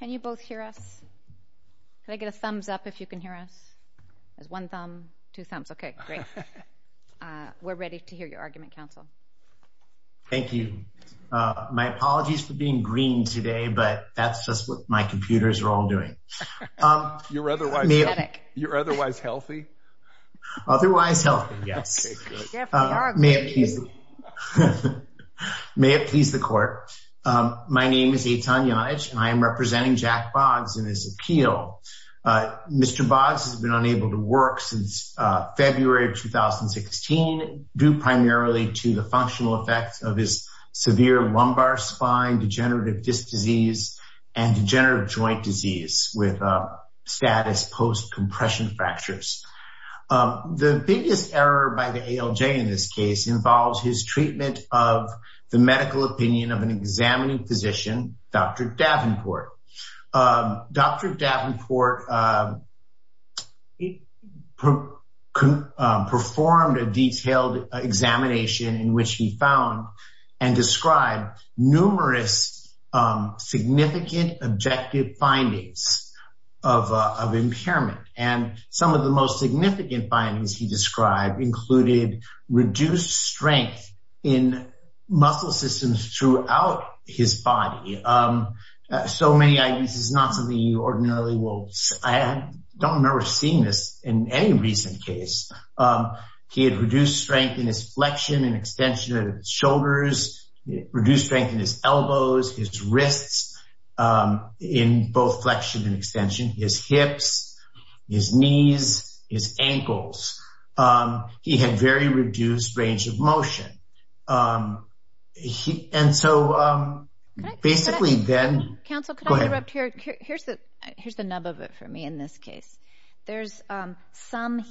Can you both hear us? Can I get a thumbs up if you can hear us? There's one thumb, two thumbs. Okay, great. We're ready to hear your argument, counsel. Thank you. My apologies for being green today, but that's just what my computers are all doing. You're otherwise healthy. Otherwise healthy, yes. Yes, we are green. May it please the court. My name is Eitan Yonaj, and I am representing Jack Boggs in this appeal. Mr. Boggs has been unable to work since February of 2016, due primarily to the functional effects of his severe lumbar spine, degenerative disc disease, and degenerative joint disease with status post-compression fractures. The biggest error by the ALJ in this case involves his treatment of the medical opinion of an examining physician, Dr. Davenport. Dr. Davenport performed a detailed examination in which he found and described numerous significant objective findings of impairment, and some of the most significant findings he described included reduced strength in muscle systems throughout his body. So many ideas is not something you ordinarily will... I don't remember seeing this in any recent case. He had reduced strength in his flexion and extension of his shoulders, reduced strength in his elbows, his wrists in both flexion and extension, his hips, his knees, his ankles. He had very reduced range of motion. And so basically then... Counsel, could I interrupt here? Here's the nub of it for me in this case. There's some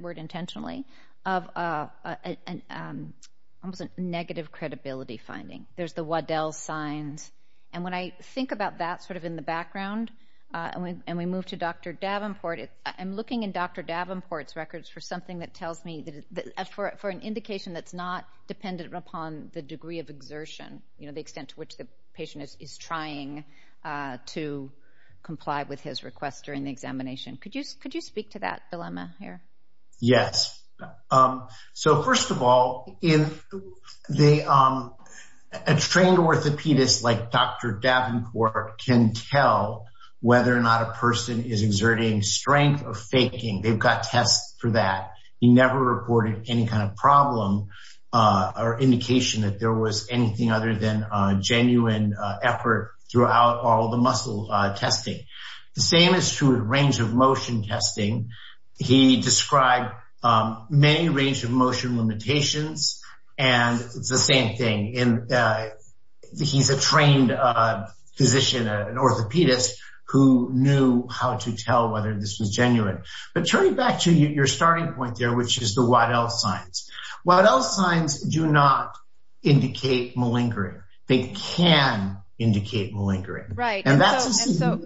word intentionally of a negative credibility finding. There's the Waddell signs. And when I think about that sort of in the background, and we move to Dr. Davenport, I'm looking in Dr. Davenport's records for something that tells me... for an indication that's not dependent upon the degree of exertion, you know, the extent to which the patient is trying to comply with his request during the examination. Could you speak to that dilemma here? Yes. So first of all, a trained orthopedist like Dr. Davenport can tell whether or not a person is exerting strength or faking. They've got tests for that. He never reported any kind of problem or indication that there was anything other than a genuine effort throughout all the muscle testing. The same is true in range of motion testing. He described many range of motion limitations, and it's the same thing. He's a trained physician, an orthopedist who knew how to tell whether this was genuine. But turning back to your starting point there, which is the Waddell signs. Waddell signs do not indicate malingering. They can indicate malingering. And so,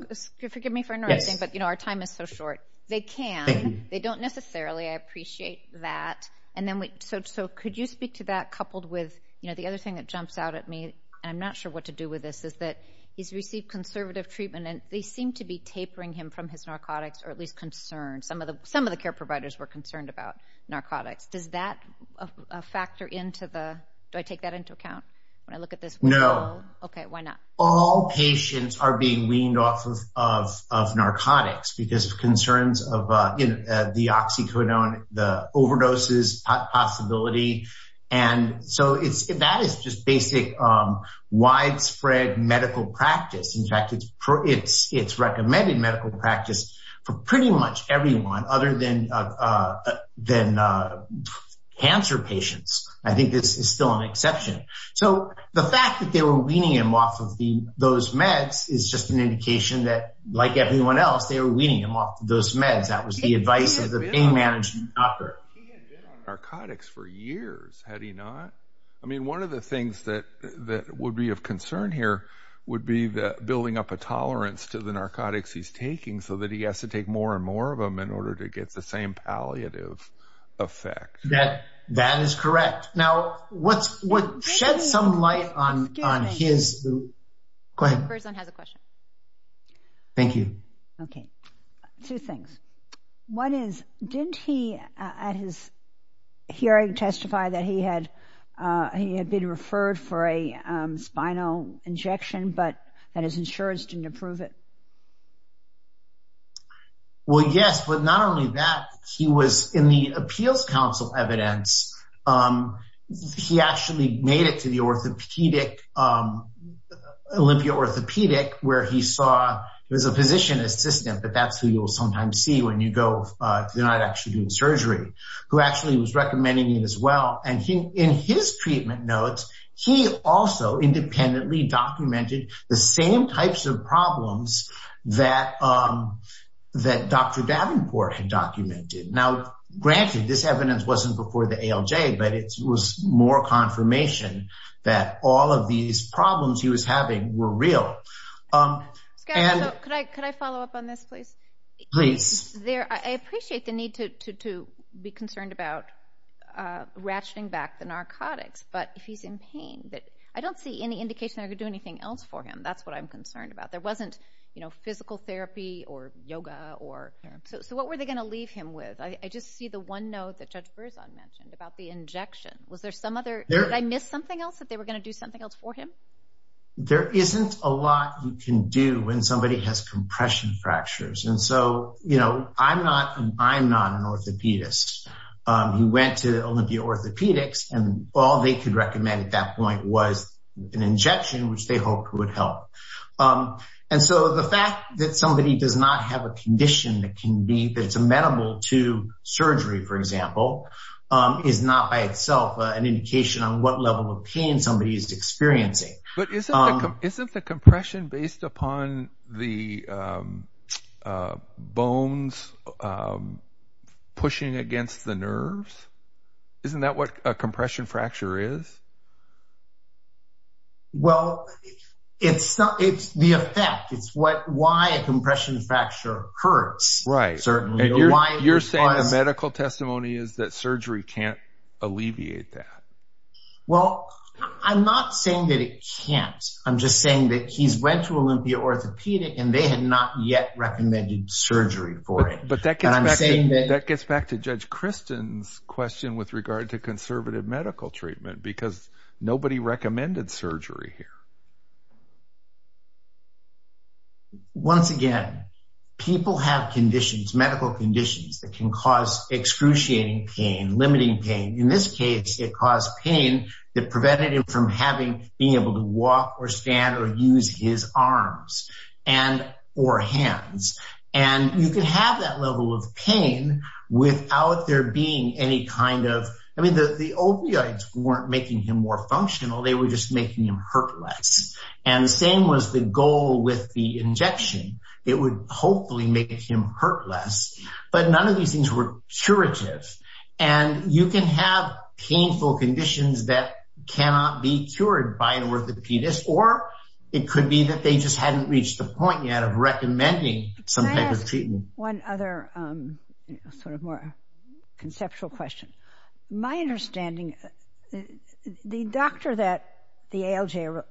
forgive me for interrupting, but you know, our time is so short. They can, they don't necessarily. I appreciate that. So could you speak to that coupled with, you know, the other thing that jumps out at me, and I'm not sure what to do with this, is that he's received conservative treatment and they seem to be tapering him from his narcotics, or at least concern. Some of the care providers were concerned about narcotics. Does that factor into the, do I take that into account when I look at this? No. Okay, why not? All patients are being weaned off of narcotics because of concerns of the oxycodone, the overdoses possibility. And so that is just basic widespread medical practice. In fact, it's recommended medical practice for pretty much everyone other than cancer patients. I think this is still an exception. So the fact that they were weaning him off of those meds is just an indication that, like everyone else, they were weaning him off those meds. That was the advice of the pain management doctor. He had been on narcotics for years, had he not? I mean, one of the things that he's taking so that he has to take more and more of them in order to get the same palliative effect. That is correct. Now, what sheds some light on his... Go ahead. The person has a question. Thank you. Okay. Two things. One is, didn't he at his hearing testify that he had been referred for a spinal injection, but that his insurance didn't approve it? Well, yes, but not only that, he was in the appeals council evidence. He actually made it to the orthopedic, Olympia Orthopedic, where he saw, there's a physician assistant, but that's who you will sometimes see when you go to the night actually doing surgery, who actually was independently documented the same types of problems that Dr. Davenport had documented. Now, granted, this evidence wasn't before the ALJ, but it was more confirmation that all of these problems he was having were real. Scott, could I follow up on this, please? Please. I appreciate the need to be concerned about ratcheting back the narcotics, but if he's in pain, I don't see any indication I could do anything else for him. That's what I'm concerned about. There wasn't physical therapy or yoga or... So what were they going to leave him with? I just see the one note that Judge Berzon mentioned about the injection. Was there some other... Did I miss something else, that they were going to do something else for him? There isn't a lot you can do when somebody has compression fractures. And so, I'm not an orthopedist. He went to Olympia Orthopedics, and all they could recommend at that point was an injection, which they hoped would help. And so, the fact that somebody does not have a condition that can be... That's amenable to surgery, for example, is not by itself an indication on what level of pain somebody is experiencing. But isn't the compression based upon the bones pushing against the nerves? Isn't that what a compression fracture is? Well, it's the effect. It's why a compression fracture hurts, certainly. And you're saying the medical testimony is that surgery can't alleviate that. Well, I'm not saying that it can't. I'm just saying that he's went to Olympia Orthopedic, and they had not yet recommended surgery for it. But that gets back to Judge Christen's question with regard to conservative medical treatment, because nobody recommended surgery here. Once again, people have conditions, medical conditions, that can cause excruciating pain, limiting pain. In this case, it caused pain that prevented him from being able to walk or stand or use his arms or hands. And you can have that level of pain without there being any kind of... I mean, the opioids weren't making him more functional. They were just making him hurt less. And the same was the goal with the injection. It would hopefully make him hurt less. But none of these things were curative. And you can have painful conditions that cannot be cured by an orthopedist, or it could be that they just hadn't reached the point yet of recommending some type of treatment. One other sort of more conceptual question. My understanding, the doctor that the ALJ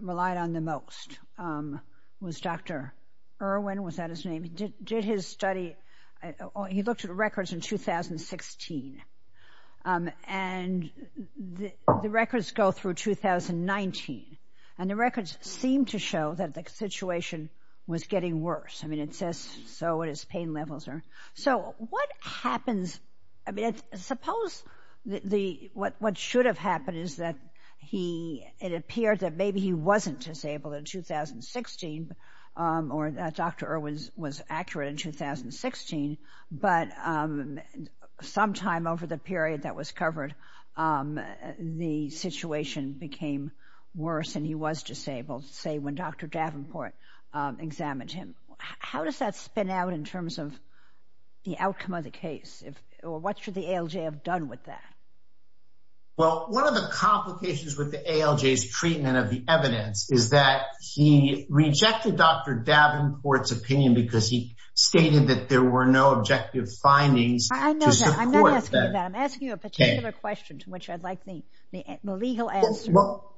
relied on the most was Dr. Irwin. Was that his name? He did his study. He looked at records in 2016. And the records go through 2019. And the records seem to show that the situation was getting worse. I mean, it says so, what his pain levels are. So what happens? I mean, suppose what should have happened is that it appeared that maybe he wasn't disabled in 2016, or that Dr. Irwin was accurate in 2016. But sometime over the period that was covered, the situation became worse and he was disabled, say when Dr. Davenport examined him. How does that spin out in terms of the outcome of the case? Or what should the ALJ have done with that? Well, one of the complications with the ALJ's treatment of the evidence is that he rejected Dr. Davenport's opinion because he stated that there were no objective findings. I know that. I'm not asking you that. I'm asking you a particular question, to which I'd like the legal answer. Well,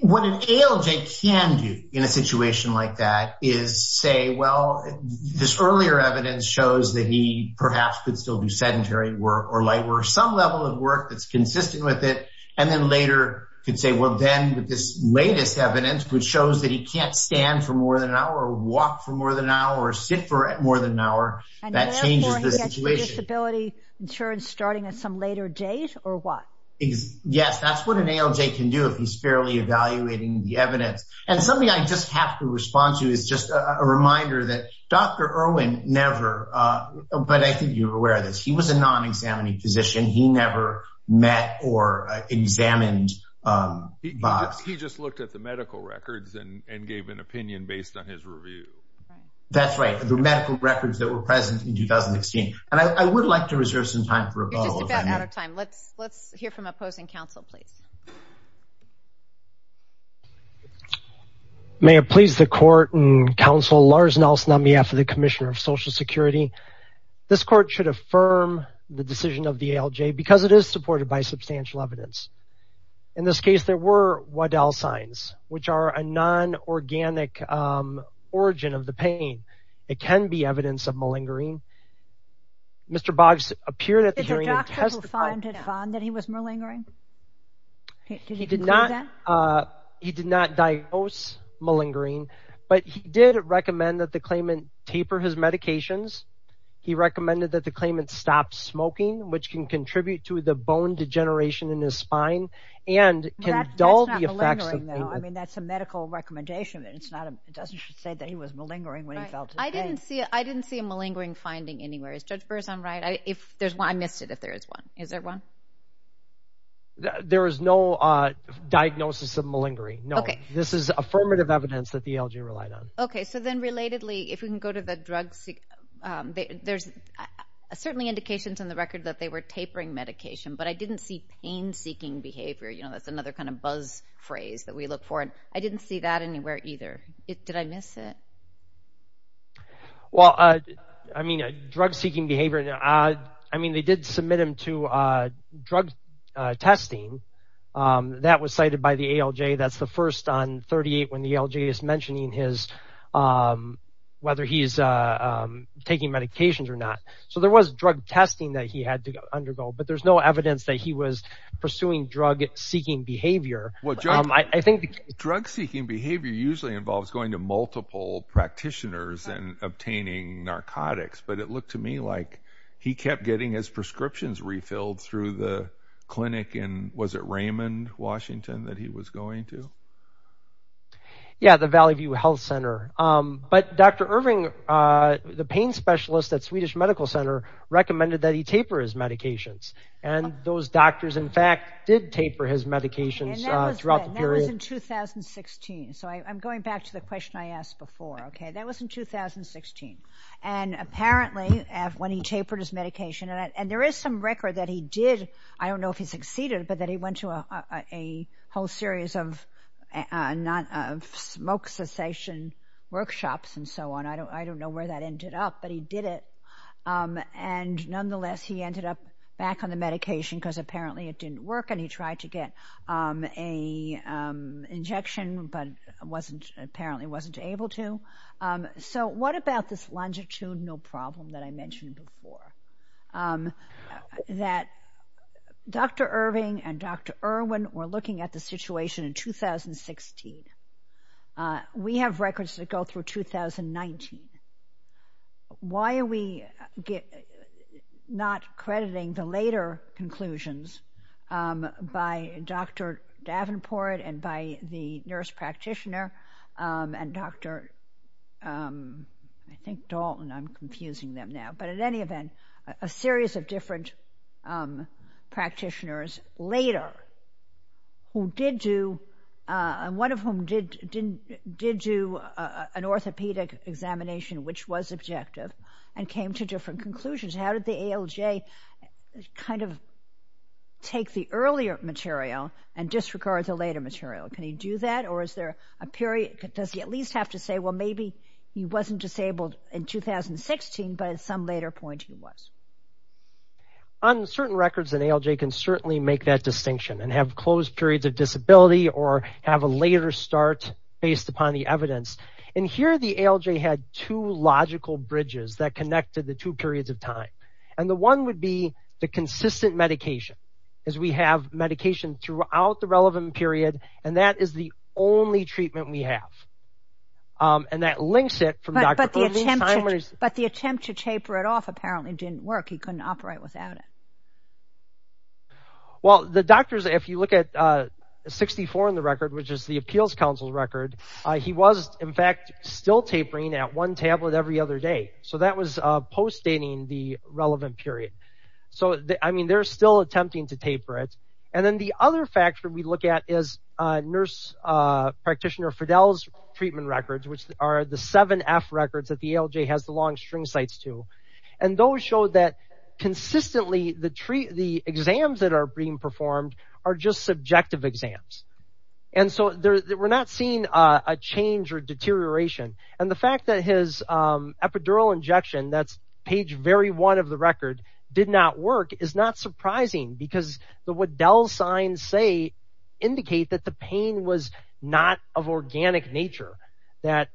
what an ALJ can do in a situation like that is say, well, this earlier evidence shows that he perhaps could still do sedentary work or light work, some level of work that's consistent with it. And then later could say, well, then with this latest evidence, which shows that he can't stand for more than an hour or walk for more than an hour or sit for more than an hour, that changes the situation. And therefore he gets disability insurance starting at some later date or what? Yes, that's what an ALJ can do if he's fairly evaluating the evidence. And something I just have to respond to is just a reminder that Dr. Irwin never, but I think you're aware of this, he was a non-examining physician. He never met or examined Bob. He just looked at the medical records and gave an opinion based on his review. That's right. The medical records that were present in 2016. And I would like to reserve some time for a follow-up. Just about out of time. Let's hear from opposing counsel, please. May it please the court and counsel, Lars Nelson on behalf of the Commissioner of Social Security. This court should affirm the decision of the ALJ because it is supported by substantial evidence. In this case, there were Waddell signs, which are a non-organic origin of the pain. It can be evidence of malingering. Mr. Boggs appeared at the hearing. Did the doctor find that he was malingering? He did not diagnose malingering, but he did recommend that the claimant taper his medications. He recommended that the claimant stop smoking, which can contribute to the bone degeneration in his spine and can dull the effects of pain. That's not malingering, though. I mean, that's a medical recommendation. It doesn't say that he was malingering when he felt his pain. I didn't see a malingering finding anywhere. Is Judge Berzon right? I missed it if there is one. Is there one? There is no diagnosis of malingering. No. This is affirmative evidence that the ALJ relied on. Okay. So then, relatedly, if we can go to the drug... There's certainly indications in the record that they were tapering medication, but I didn't see pain-seeking behavior. That's another kind of buzz phrase that we look for. I didn't see that anywhere either. Did I miss it? Well, I mean, drug-seeking behavior. I mean, they did submit him to drug testing. That was cited by the ALJ. That's the first on 38 when the ALJ is mentioning his... whether he's taking medications or not. So there was drug testing that he had to undergo, but there's no evidence that he was pursuing drug-seeking behavior. I think drug-seeking behavior usually involves going to multiple practitioners and obtaining narcotics, but it looked to me like he kept getting his prescriptions refilled through the clinic in... Was it Raymond, Washington, that he was going to? Yeah, the Valley View Health Center. But Dr. Irving, the pain specialist at Swedish Medical Center, recommended that he taper his medications, and those doctors, in fact, did taper his throughout the period. That was in 2016. So I'm going back to the question I asked before. That was in 2016. Apparently, when he tapered his medication, and there is some record that he did, I don't know if he succeeded, but that he went to a whole series of smoke cessation workshops and so on. I don't know where that ended up, but he did it. Nonetheless, he ended up back on the medication because apparently it didn't work, and he tried to get an injection, but apparently wasn't able to. So what about this longitudinal problem that I mentioned before? That Dr. Irving and Dr. Irwin were looking at the situation in 2016. We have records that go through 2019. Why are we not crediting the later conclusions by Dr. Davenport and by the nurse practitioner and Dr. Dalton? I'm confusing them now, but at any event, a series of different practitioners later, one of whom did do an orthopedic examination, which was objective, and came to different conclusions. How did the ALJ kind of take the earlier material and disregard the later material? Can he do that, or is there a period? Does he at least have to say, well, maybe he wasn't disabled in 2016, but at some later point he was? On certain records, an ALJ can certainly make that distinction and have closed periods of disability or have a later start based upon the evidence. Here, the ALJ had two logical bridges that connected the two periods of time. The one would be the consistent medication. We have medication throughout the relevant period, and that is the only treatment we have. That links it from Dr. Irving's time. But the attempt to taper it off apparently didn't work. He couldn't operate without it. Well, the doctors, if you look at 1964 in the record, which is the Appeals Council record, he was, in fact, still tapering at one tablet every other day. So that was post-dating the relevant period. So, I mean, they're still attempting to taper it. And then the other factor we look at is nurse practitioner Fidel's treatment records, which are the 7F records that the ALJ has the long string sites to. And those show that we're not seeing a change or deterioration. And the fact that his epidural injection, that's page very one of the record, did not work is not surprising because what Dell signs say indicate that the pain was not of organic nature, that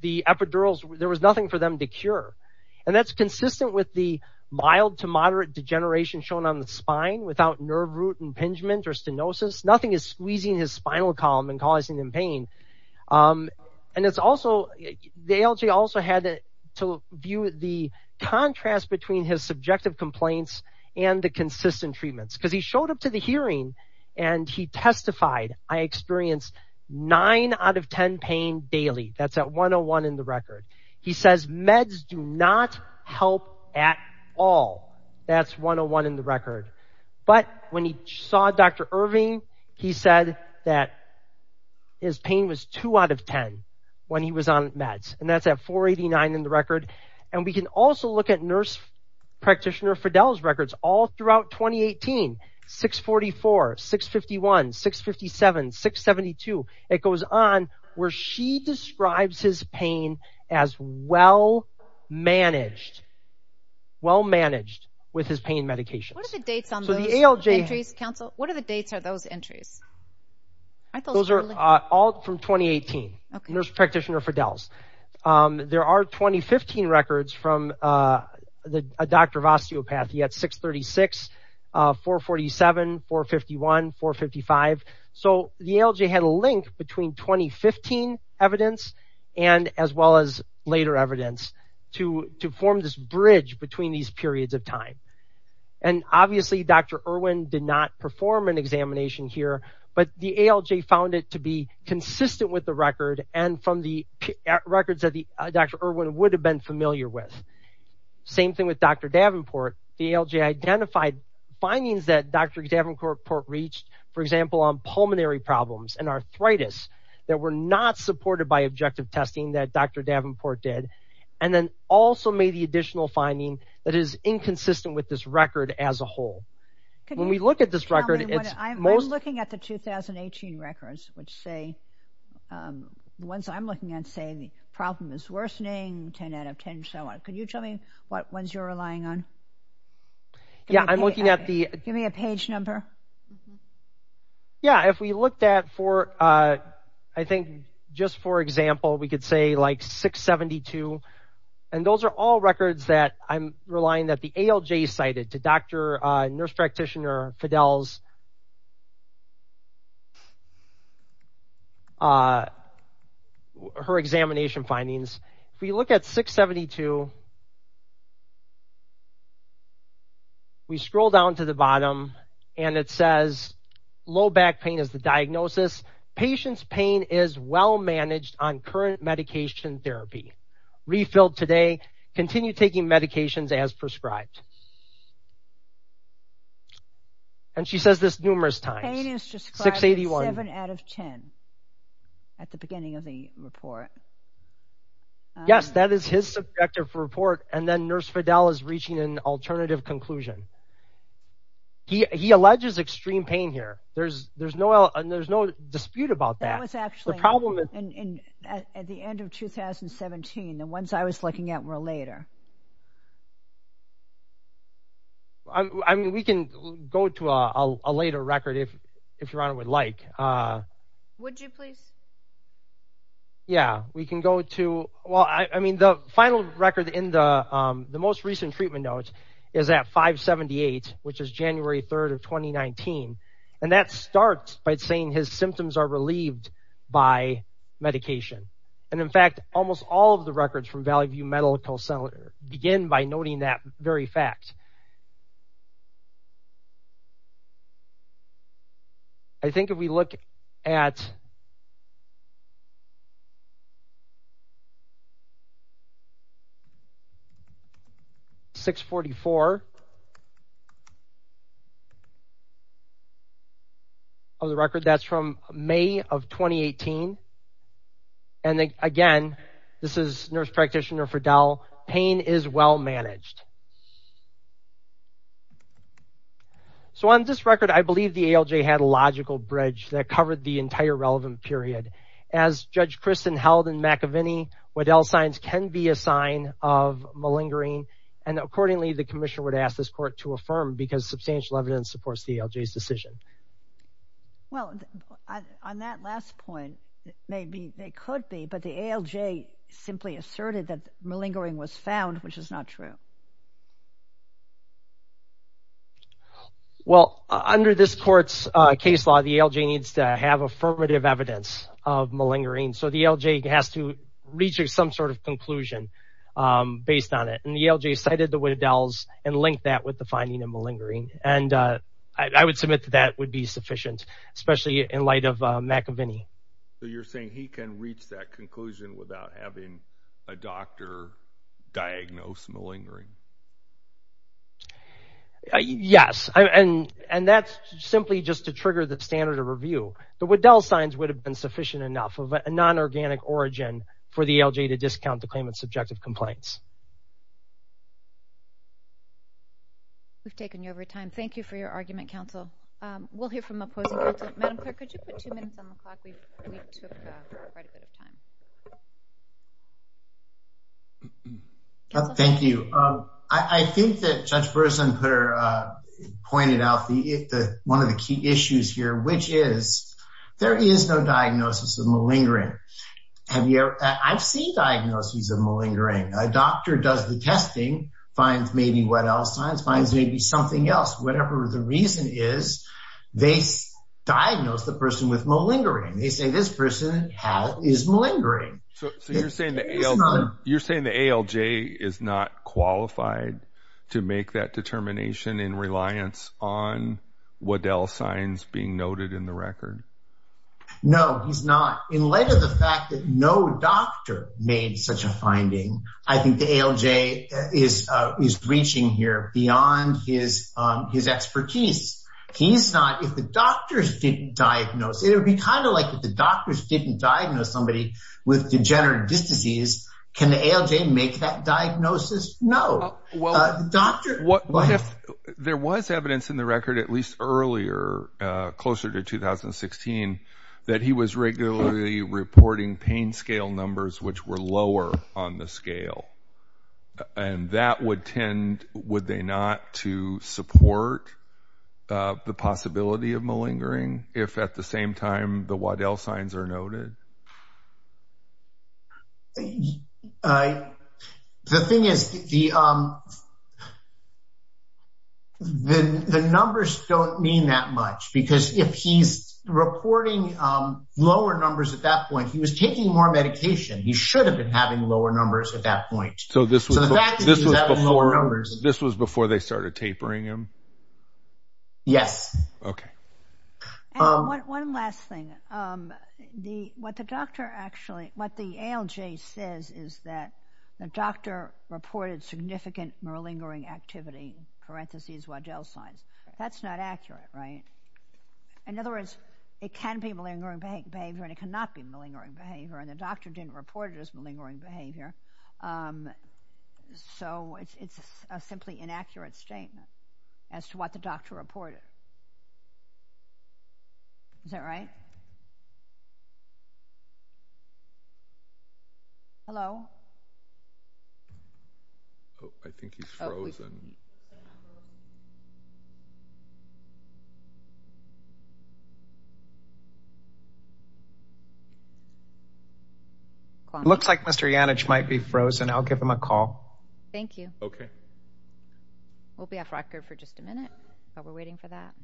the epidurals, there was nothing for them to cure. And that's consistent with the mild to moderate degeneration shown on the spine without nerve root impingement or stenosis. Nothing is squeezing his spinal column and causing him pain. And it's also, the ALJ also had to view the contrast between his subjective complaints and the consistent treatments because he showed up to the hearing and he testified, I experienced nine out of 10 pain daily. That's at 101 in the record. He says meds do not help at all. That's 101 in the record. But when he saw Dr. Irving, he said that his pain was two out of 10 when he was on meds. And that's at 489 in the record. And we can also look at nurse practitioner Fidel's records all throughout 2018, 644, 651, 657, 672. It goes on where she managed, well-managed with his pain medications. What are the dates on those entries, counsel? What are the dates of those entries? Those are all from 2018, nurse practitioner Fidel's. There are 2015 records from a doctor of osteopathy at 636, 447, 451, 455. So the ALJ had a link between 2015 evidence and as well as later evidence to form this bridge between these periods of time. And obviously Dr. Irving did not perform an examination here, but the ALJ found it to be consistent with the record and from the records that Dr. Irving would have been familiar with. Same thing with Dr. Davenport. The ALJ identified findings that Dr. Davenport reached, for example, on pulmonary problems and arthritis that were not supported by objective testing that Dr. Davenport did, and then also made the additional finding that is inconsistent with this record as a whole. When we look at this record, it's most... I'm looking at the 2018 records which say, the ones I'm looking at say the problem is worsening, 10 out of 10, so on. Can you tell me what ones you're relying on? Yeah, I'm looking at the... Give me a page number. Yeah, if we looked at for, I think just for example, we could say like 672, and those are all records that I'm relying that the ALJ cited to Dr. Nurse Practitioner Fidel's, her examination findings. If we look at 672, we scroll down to the bottom and it says, low back pain is the diagnosis. Patient's pain is well managed on current medication therapy. Refilled today, continue taking medications as prescribed. And she says this numerous times. Pain is described as 7 out of 10 at the beginning of the report. Yes, that is his subjective report, and then Nurse Fidel is reaching an alternative conclusion. He alleges extreme pain here. There's no dispute about that. That was actually at the end of 2017, the ones I was looking at were later. I mean, we can go to a later record if your honor would like. Would you please? Yeah, we can go to, well, I mean the final record in the most recent treatment note is at 578, which is January 3rd of 2019. And that starts by saying his symptoms are relieved by medication. And in fact, almost all of the records from Valley View Medical Center begin by noting that very fact. I think if we look at 644 of the record, that's from May of 2018. And again, this is Nurse Practitioner Fidel. Pain is well managed. So on this record, I believe the ALJ had a logical bridge that covered the entire relevant period. As Judge Christin held in McAvinney, Waddell signs can be a sign of malingering. And accordingly, the commissioner would ask this court to affirm because substantial evidence supports the ALJ's decision. Well, on that last point, maybe they could be, but the ALJ simply asserted that malingering was found, which is not true. Well, under this court's case law, the ALJ needs to have affirmative evidence of malingering. So the ALJ has to reach some sort of conclusion based on it. And the ALJ cited the Waddells and linked that with the finding of malingering. And I would submit that that would be sufficient, especially in light of McAvinney. So you're saying he can reach that conclusion without having a doctor diagnose malingering? Yes. And that's simply just to trigger the standard of review. The Waddell signs would have been sufficient enough of a non-organic origin for the ALJ to discount the claimant's subjective complaints. We've taken you over time. Thank you for your argument, counsel. We'll hear from opposing counsel. Madam Clerk, could you put two minutes on the clock? Thank you. I think that Judge Burson pointed out one of the key issues here, which is there is no diagnosis of malingering. I've seen diagnoses of malingering. A doctor does the testing, finds maybe what else, finds maybe something else. Whatever the reason is, they diagnose the person with malingering. They say this person is malingering. So you're saying the ALJ is not qualified to make that determination in reliance on Waddell signs being noted in the record? No, he's not. In light of the fact that no doctor made such a finding, I think the ALJ is reaching here beyond his expertise. He's not. If the degenerative disease, can the ALJ make that diagnosis? No. There was evidence in the record, at least earlier, closer to 2016, that he was regularly reporting pain scale numbers which were lower on the scale. That would tend, would they not, to support the possibility of malingering if at the same time the Waddell signs are noted? The thing is, the numbers don't mean that much, because if he's reporting lower numbers at that point, he was taking more medication. He should have been having lower numbers at that point. This was before they started tapering him? Yes. Okay. One last thing. What the ALJ says is that the doctor reported significant malingering activity, parentheses Waddell signs. That's not accurate, right? In other words, it can be malingering behavior and it cannot be malingering behavior, and the doctor didn't report it as malingering behavior. So, it's a simply inaccurate statement as to what the doctor reported. Is that right? Hello? I think he's frozen. Looks like Mr. Janich might be frozen. I'll give him a call. Thank you. Okay. We'll be off record for just a minute, but we're waiting for that.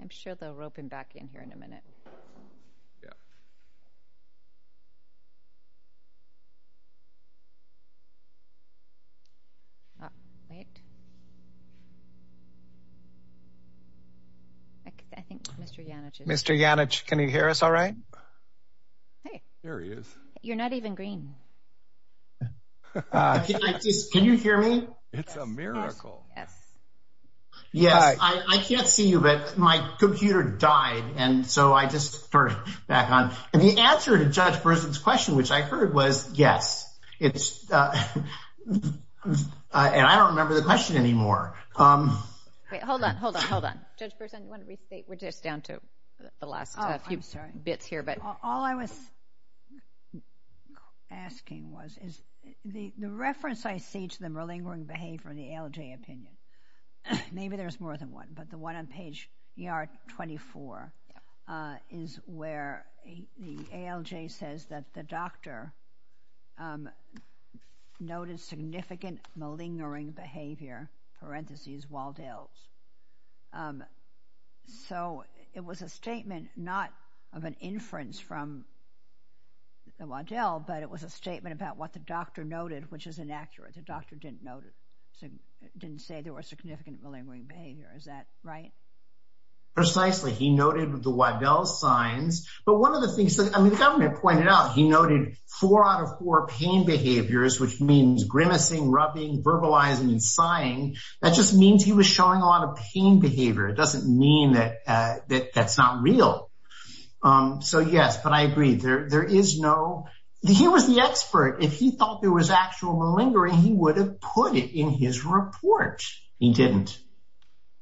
I'm sure they'll rope him back in here in a minute. Mr. Janich, can you hear us all right? There he is. You're not even green. Can you hear me? It's a miracle. Yes. I can't see you, but my computer died, and so I just turned it back on. The answer to Judge Brisson's question, which I heard was, yes. I don't remember the question anymore. Hold on, hold on, hold on. Judge Brisson, we're just down to the last few bits here. All I was asking was, the reference I see to the malingering behavior in the ALJ opinion, maybe there's more than one, but the one on page ER24 is where the ALJ says that the doctor noted significant malingering behavior, parentheses, Waddell's. It was a statement, not of an inference from the Waddell, but it was a statement about what the doctor noted, which is inaccurate. The doctor didn't say there was significant malingering behavior. Is that right? Precisely. He noted the Waddell signs, but one of the things that the government pointed out, he noted four out of four pain behaviors, which means grimacing, rubbing, verbalizing, and sighing. That just means he was showing a lot of pain behavior. It doesn't mean that that's not real. Yes, but I agree. He was the expert. If he thought there was actual malingering, he would have put it in his report. He didn't.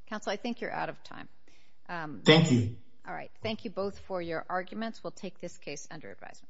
Counsel, I think you're out of time. Thank you. All right. Thank you both for your arguments. We'll take this case under advisement.